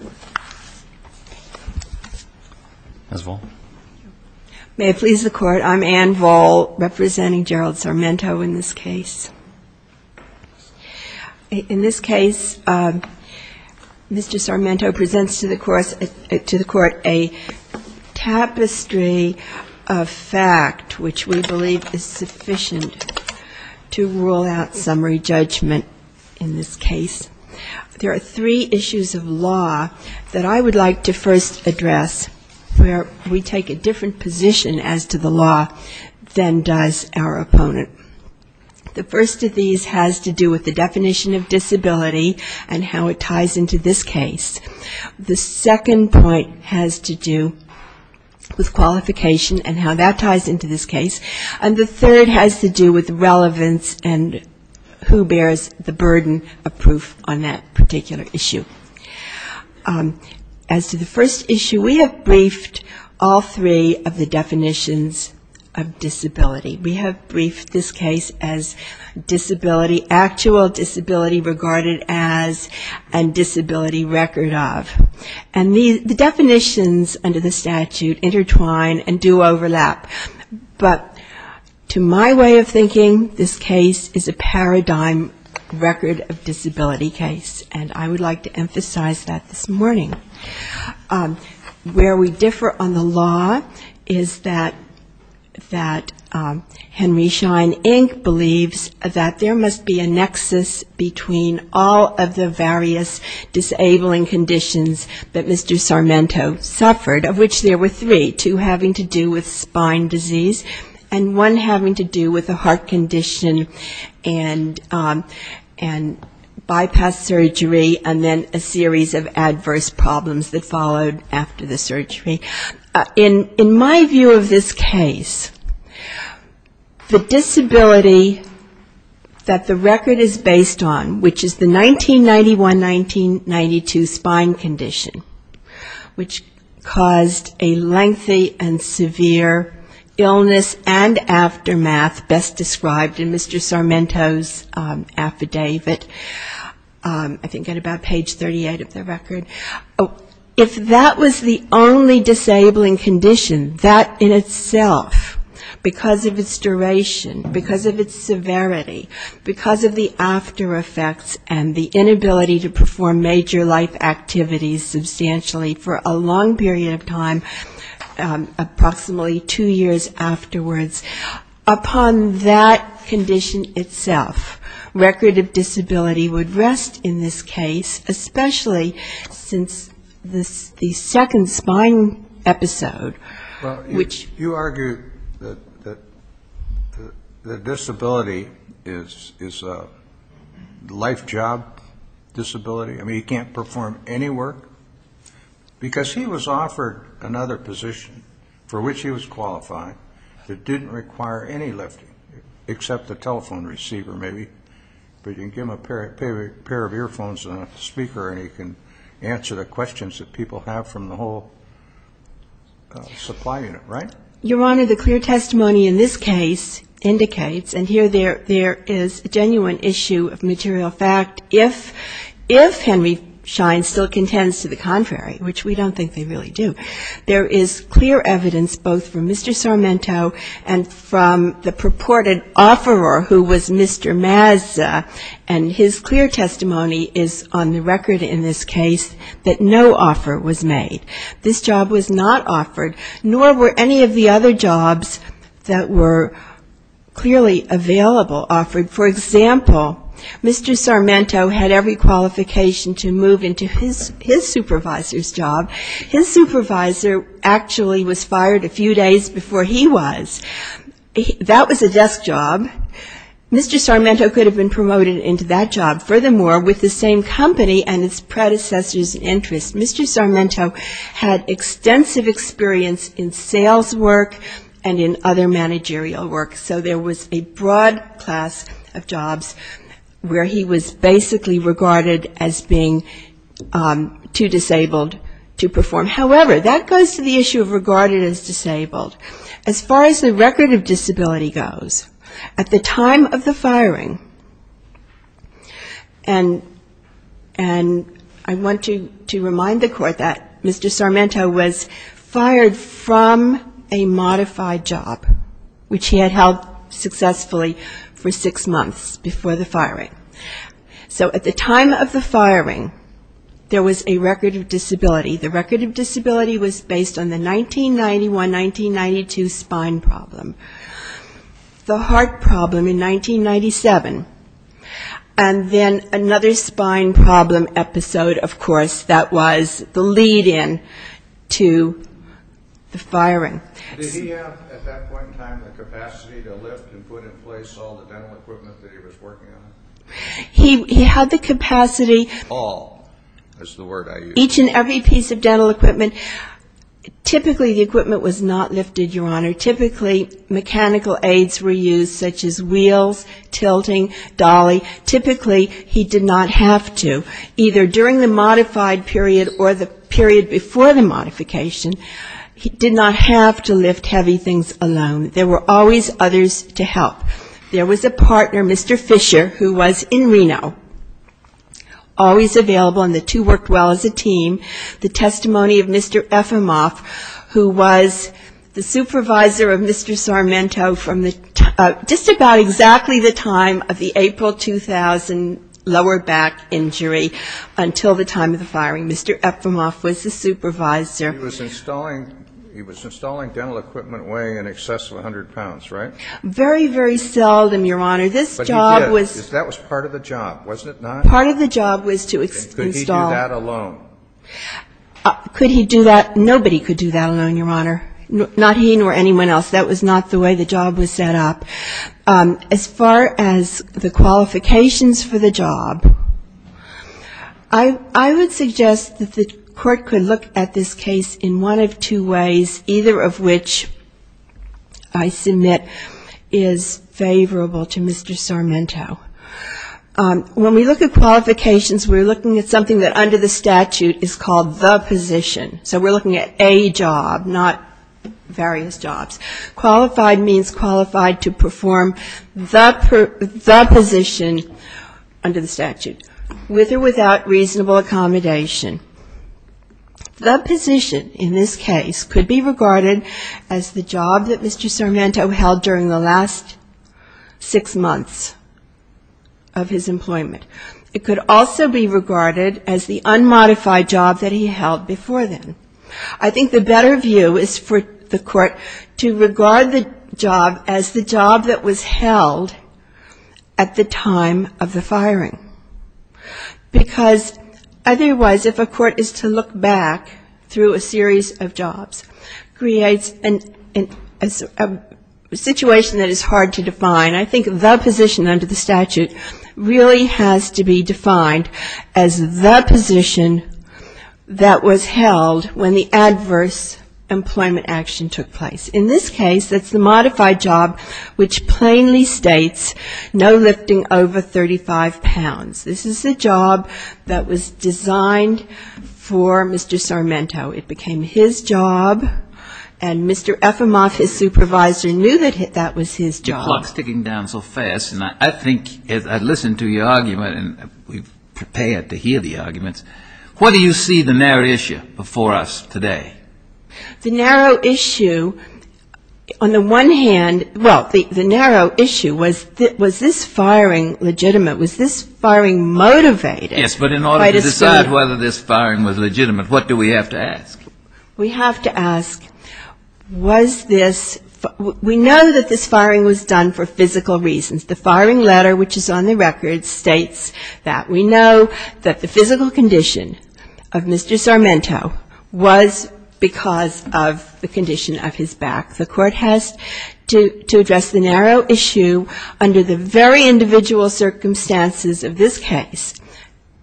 Mr. Sarmento presents to the Court a tapestry of fact which we believe is sufficient to rule out summary judgment in this case. There are three issues of law that I would like to first address where we take a different position as to the law than does our opponent. The first of these has to do with the definition of disability and how it ties into this case. The second point has to do with qualification and how that ties into this case. And the third has to do with relevance and who bears the burden of proof on that particular issue. As to the first issue, we have briefed all three of the definitions of disability. We have briefed this case as disability, actual disability regarded as, and disability record of. And the definitions under the statute intertwine and do overlap. But to my way of thinking, this case is a paradigm record of disability case, and I would like to emphasize that this morning. Where we differ on the law is that Henry Schein, Inc. believes that there must be a nexus between all of the various disabling conditions that Mr. Sarmento suffered, of which there were three, two having to do with spine disease and one having to do with a heart condition and bypass surgery and then a number of other problems that followed after the surgery. In my view of this case, the disability that the record is based on, which is the 1991-1992 spine condition, which caused a lengthy and severe illness and aftermath, best described in Mr. Sarmento's affidavit, I think at about page 38 of the record, was that his spine was disabled. So if that was the only disabling condition, that in itself, because of its duration, because of its severity, because of the after effects and the inability to perform major life activities substantially for a long period of time, approximately two years afterwards, upon that condition itself, record of disability would rest in this case, especially since Mr. Sarmento's condition was so severe. The second spine episode, which you argue that the disability is a life job disability, I mean he can't perform any work, because he was offered another position for which he was qualified that didn't require any lifting except the telephone receiver maybe, but you can give him a pair of earphones and a speaker and he can answer the questions that people have from the whole supply unit, right? Your Honor, the clear testimony in this case indicates, and here there is a genuine issue of material fact, if Henry Schein still contends to the contrary, which we don't think they really do, there is clear evidence both from Mr. Sarmento and from the purported offeror, who was Mr. Mazza, and his clear testimony is on the record in this case that no offer was made. This job was not offered, nor were any of the other jobs that were clearly available offered. For example, Mr. Sarmento had every qualification to move into his supervisor's job. His supervisor actually was fired a few days before he was. That was a desk job. Mr. Sarmento had extensive experience in sales work and in other managerial work, so there was a broad class of jobs where he was basically regarded as being too disabled to perform. However, that goes to the issue of regarded as disabled. As far as the record of disability goes, at the time of the firing and I want to remind the Court that Mr. Sarmento was fired from a modified job, which he had held successfully for six months before the firing. So at the time of the firing, there was a record of disability. The record of disability was based on the 1991-1992 spine problem, the heart problem in particular, and the other spine problem episode, of course, that was the lead-in to the firing. Did he have at that point in time the capacity to lift and put in place all the dental equipment that he was working on? He had the capacity. All is the word I use. Each and every piece of dental equipment. Typically the equipment was not lifted, Your Honor. Typically mechanical aids were used, such as wheels, tilting, dolly. He did not have to, either during the modified period or the period before the modification, he did not have to lift heavy things alone. There were always others to help. There was a partner, Mr. Fisher, who was in Reno, always available, and the two worked well as a team. The testimony of Mr. Efimov, who was the supervisor of Mr. Sarmento from just about exactly the time of the April 2000 lower back injury. Until the time of the firing, Mr. Efimov was the supervisor. He was installing dental equipment weighing in excess of 100 pounds, right? Very, very seldom, Your Honor. But he did. That was part of the job, wasn't it not? Part of the job was to install. Could he do that? Nobody could do that alone, Your Honor. Not he nor anyone else. That was not the way the job was set up. As far as the qualifications for the job, I would suggest that the court could look at this case in one of two ways, either of which I submit is favorable to Mr. Sarmento. When we look at qualifications, we're looking at something that under the statute is called the position. So we're looking at a job, not various jobs. Qualified means qualified to perform the position under the statute, with or without reasonable accommodation. The position in this case could be regarded as the job that Mr. Sarmento held during the last six months. It could also be regarded as the unmodified job that he held before then. I think the better view is for the court to regard the job as the job that was held at the time of the firing. Because otherwise, if a court is to look back through a series of jobs, creates a situation that is hard to define. I think the position under the statute really has to be defined as the position that was held when the adverse employment action took place. In this case, it's the modified job, which plainly states no lifting over 35 pounds. This is a job that was designed for Mr. Sarmento. It became his job, and Mr. Ephimoff, his supervisor, knew that that was his job. And I think, as I listened to your argument, and we're prepared to hear the arguments, what do you see the narrow issue before us today? The narrow issue, on the one hand, well, the narrow issue was, was this firing legitimate? Was this firing motivated? Yes, but in order to decide whether this firing was legitimate, what do we have to ask? We have to ask, was this, we know that this firing was done for physical reasons. The firing letter, which is on the record, states that. We know that the physical condition of Mr. Sarmento was because of the condition of his back. The court has to address the narrow issue under the very individual circumstances of this case.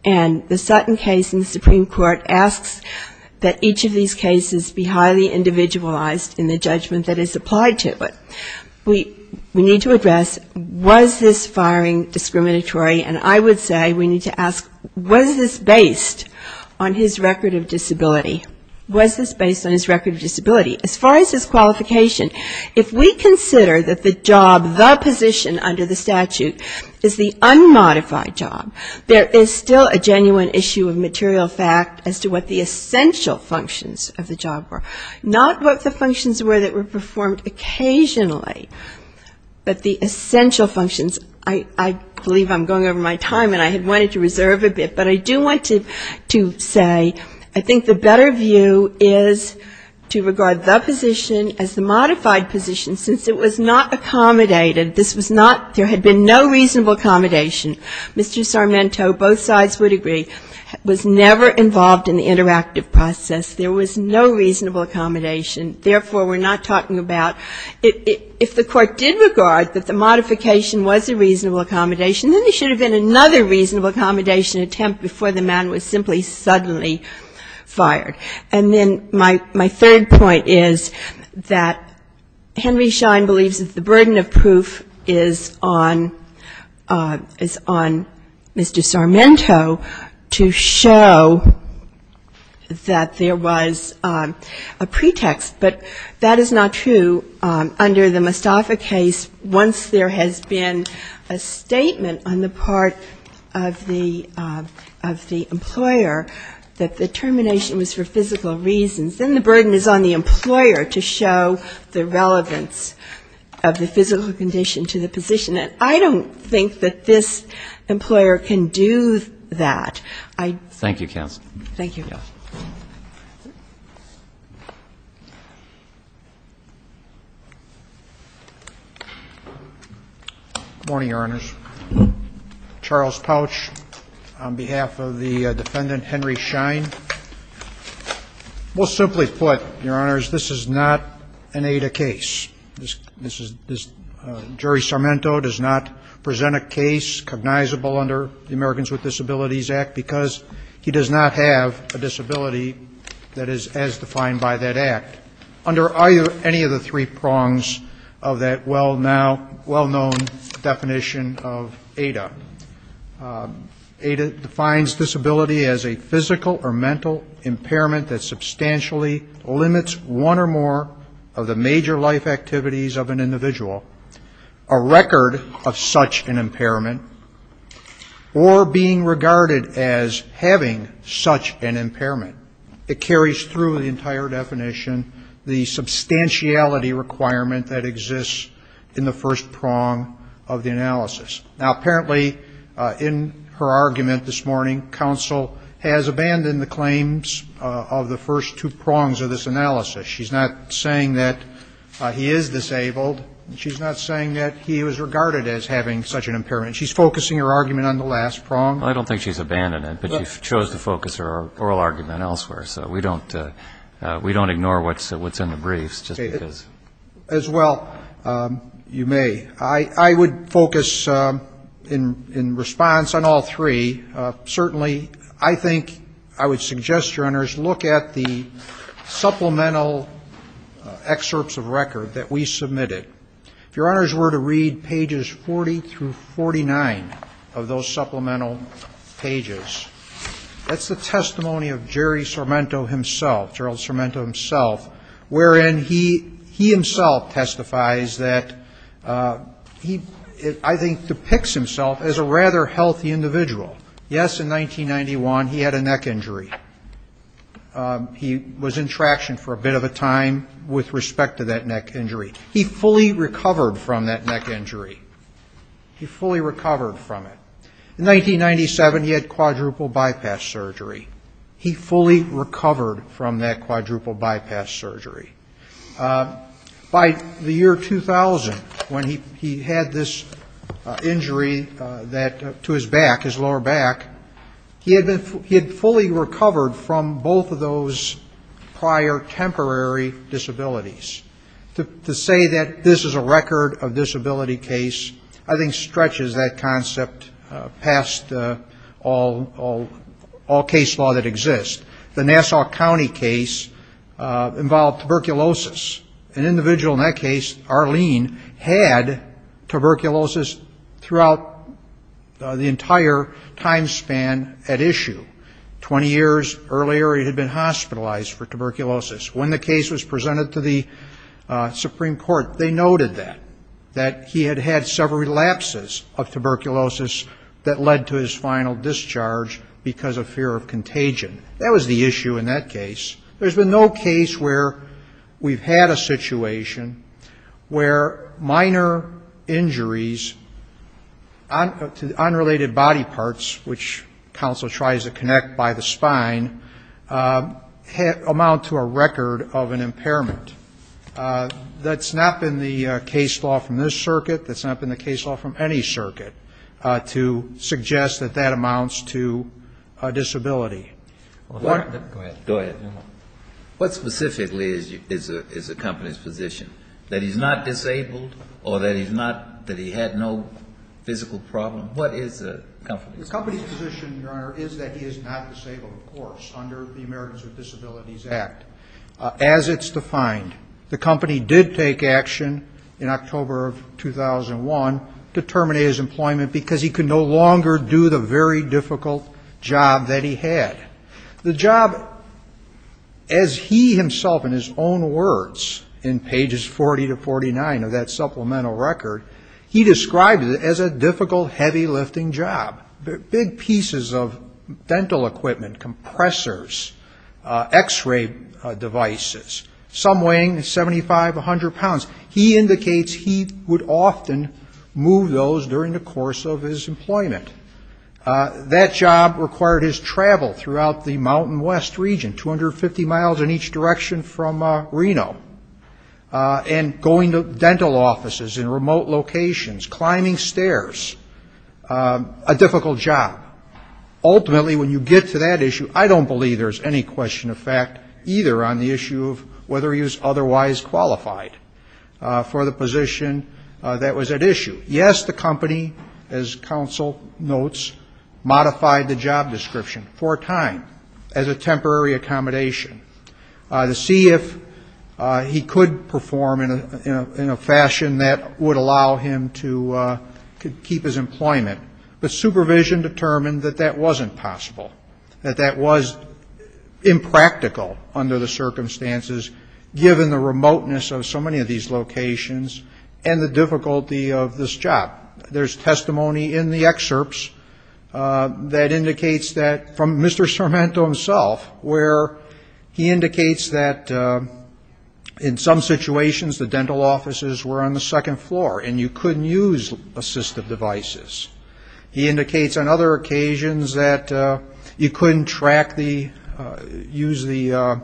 And the Sutton case in the Supreme Court asks that each of these cases be highly individualized in the judgment that is applied to it. But we need to address, was this firing discriminatory? And I would say we need to ask, was this based on his record of disability? Was this based on his record of disability? As far as his qualification, if we consider that the job, the position under the statute, is the unmodified job, there is still a genuine issue of material fact as to what the essential functions of the job were. Not what the functions were that were performed occasionally, but the essential functions. I believe I'm going over my time, and I had wanted to reserve a bit, but I do want to say I think the better view is to regard those functions as essential functions. As the position, as the modified position, since it was not accommodated, this was not, there had been no reasonable accommodation. Mr. Sarmento, both sides would agree, was never involved in the interactive process. There was no reasonable accommodation. Therefore, we're not talking about, if the court did regard that the modification was a reasonable accommodation, then there should have been another reasonable accommodation attempt before the man was simply suddenly fired. And then my third point is that Henry Schein believes that the burden of proof is on Mr. Sarmento to show that there was a pretext, but that is not true. Under the Mostafa case, once there has been a statement on the part of the employer, that the termination was referred to as a reasonable accommodation. And then the burden is on the employer to show the relevance of the physical condition to the position. And I don't think that this employer can do that. Thank you, counsel. Good morning, Your Honors. Charles Pouch on behalf of the defendant, Henry Schein. We'll simply put, Your Honors, this is not an ADA case. Jury Sarmento does not present a case cognizable under the Americans with Disabilities Act because he does not have a disability that is as defined by that act. Under any of the three prongs of that well-known definition of a reasonable accommodation, ADA defines disability as a physical or mental impairment that substantially limits one or more of the major life activities of an individual, a record of such an impairment, or being regarded as having such an impairment. It carries through the entire definition the substantiality requirement that exists in the first prong of the analysis. Now, apparently, in her argument this morning, counsel has abandoned the claims of the first two prongs of this analysis. She's not saying that he is disabled, and she's not saying that he was regarded as having such an impairment. She's focusing her argument on the last prong. I don't think she's abandoned it, but she chose to focus her oral argument elsewhere, so we don't ignore what's in the briefs, just because. As well, you may, I would focus in response on all three. Certainly, I think I would suggest, Your Honors, look at the supplemental excerpts of record that we submitted. If Your Honors were to read pages 40 through 49 of those supplemental pages, that's the testimony of Jerry Sormento himself, Gerald Sormento himself, wherein he himself testifies that he, I think, depicts himself as a rather healthy individual. Yes, in 1991, he had a neck injury. He was in traction for a bit of a time with respect to that neck injury. He fully recovered from that neck injury. He fully recovered from it. In 1997, he had quadruple bypass surgery. He fully recovered from that quadruple bypass surgery. By the year 2000, when he had this injury to his back, his lower back, he had fully recovered from both of those prior temporary disabilities. To say that this is a record of disability case, I think, stretches that concept past all case law that exists. The Nassau County case involved tuberculosis. An individual in that case, Arlene, had tuberculosis throughout the entire time span at issue. Twenty years earlier, he had been hospitalized for tuberculosis. Supreme Court, they noted that, that he had had several relapses of tuberculosis that led to his final discharge because of fear of contagion. That was the issue in that case. There's been no case where we've had a situation where minor injuries to unrelated body parts, which counsel tries to connect by the spine, amount to a record of an impairment. That's not been the case law from this circuit. That's not been the case law from any circuit to suggest that that amounts to a disability. What specifically is the company's position, that he's not disabled or that he had no physical problem? What is the company's position? The company's position, Your Honor, is that he is not disabled, of course, under the Americans with Disabilities Act, as it's defined. The company did take action in October of 2001 to terminate his employment because he could no longer do the very difficult job that he had. The job, as he himself, in his own words, in pages 40 to 49 of that supplemental record, he described it as a difficult, heavy lifting job. Big pieces of dental equipment, compressors, x-ray devices, some weighing 75, 100 pounds. He indicates he would often move those during the course of his employment. That job required his travel throughout the Mountain West region, 250 miles in each direction from Reno, and going to dental offices in remote locations, climbing stairs, a difficult job. Ultimately, when you get to that issue, I don't believe there's any question of fact either on the issue of whether he was otherwise qualified for the position that was at issue. Yes, the company, as counsel notes, modified the job description for time, as a temporary accommodation, to see if he could perform in a fashion that would allow him to, you know, keep his employment, but supervision determined that that wasn't possible. That that was impractical under the circumstances, given the remoteness of so many of these locations, and the difficulty of this job. There's testimony in the excerpts that indicates that, from Mr. Cemento himself, where he indicates that in some situations the dental offices were on the second floor, and you couldn't use assistive devices, he indicates on other occasions that you couldn't track the, use the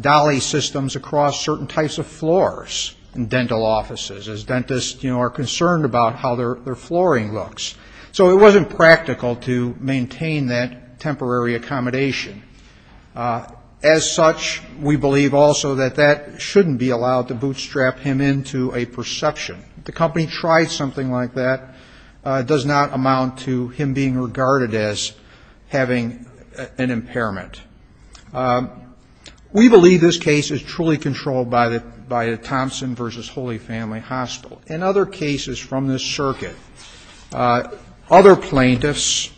dolly systems across certain types of floors in dental offices, as dentists, you know, are concerned about how their flooring looks. So it wasn't practical to maintain that temporary accommodation. As such, we believe also that that shouldn't be allowed to bootstrap him into a perception. The company tried something like that, does not amount to him being regarded as having an impairment. We believe this case is truly controlled by the Thompson v. Holy Family Hospital, and other cases from this circuit. Other plaintiffs,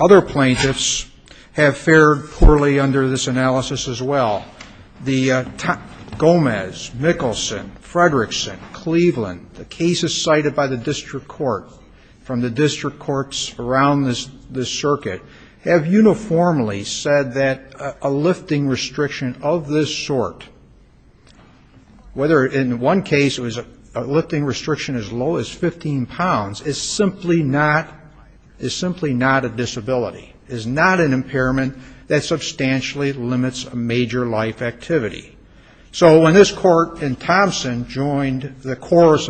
other plaintiffs have fared poorly under this analysis as well. The Gomez, Mickelson, Fredrickson, Cleveland, the cases cited by the district court, from the district courts around this circuit, have uniformly said that a lifting restriction of this sort, whether in one case it was a lifting restriction as low as 15 pounds, is simply not, is simply not a disability, is not an impairment that substantially limits a major life activity. So when this court in Thompson joined the course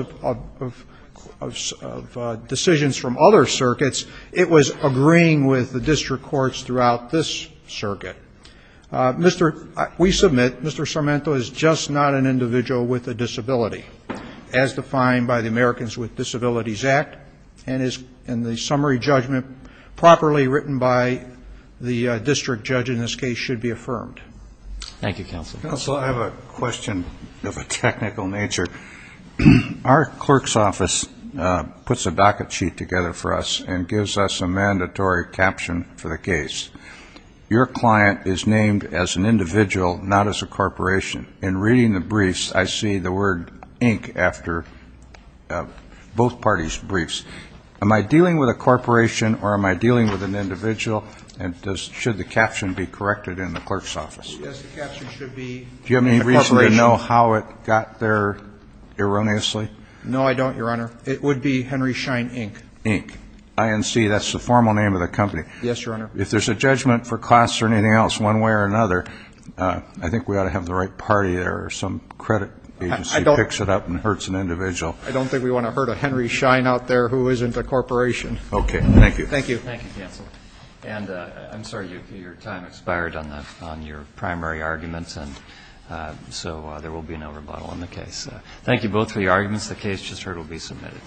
of decisions from other circuits, it was agreeing with the district courts throughout this circuit. Mr., we submit Mr. Sarmiento is just not an individual with a disability, as defined by the Americans with Disabilities Act, and the summary judgment properly written by the district judge in this case should be affirmed. Thank you, Counsel. Counsel, I have a question of a technical nature. Our clerk's office puts a docket sheet together for us and gives us a mandatory caption for the case. Your client is named as an individual, not as a corporation. In reading the briefs, I see the word ink after both parties' briefs. Am I dealing with a corporation, or am I dealing with an individual, and should the caption be corrected in the clerk's office? Yes, the caption should be a corporation. Do you have any reason to know how it got there erroneously? No, I don't, Your Honor. It would be Henry Schein, Inc. Inc. INC. That's the formal name of the company. Yes, Your Honor. If there's a judgment for costs or anything else, one way or another, I think we ought to have the right party there or some credit agency picks it up and hurts an individual. I don't think we want to hurt a Henry Schein out there who isn't a corporation. Okay. Thank you. Thank you both for your arguments. The case just heard will be submitted.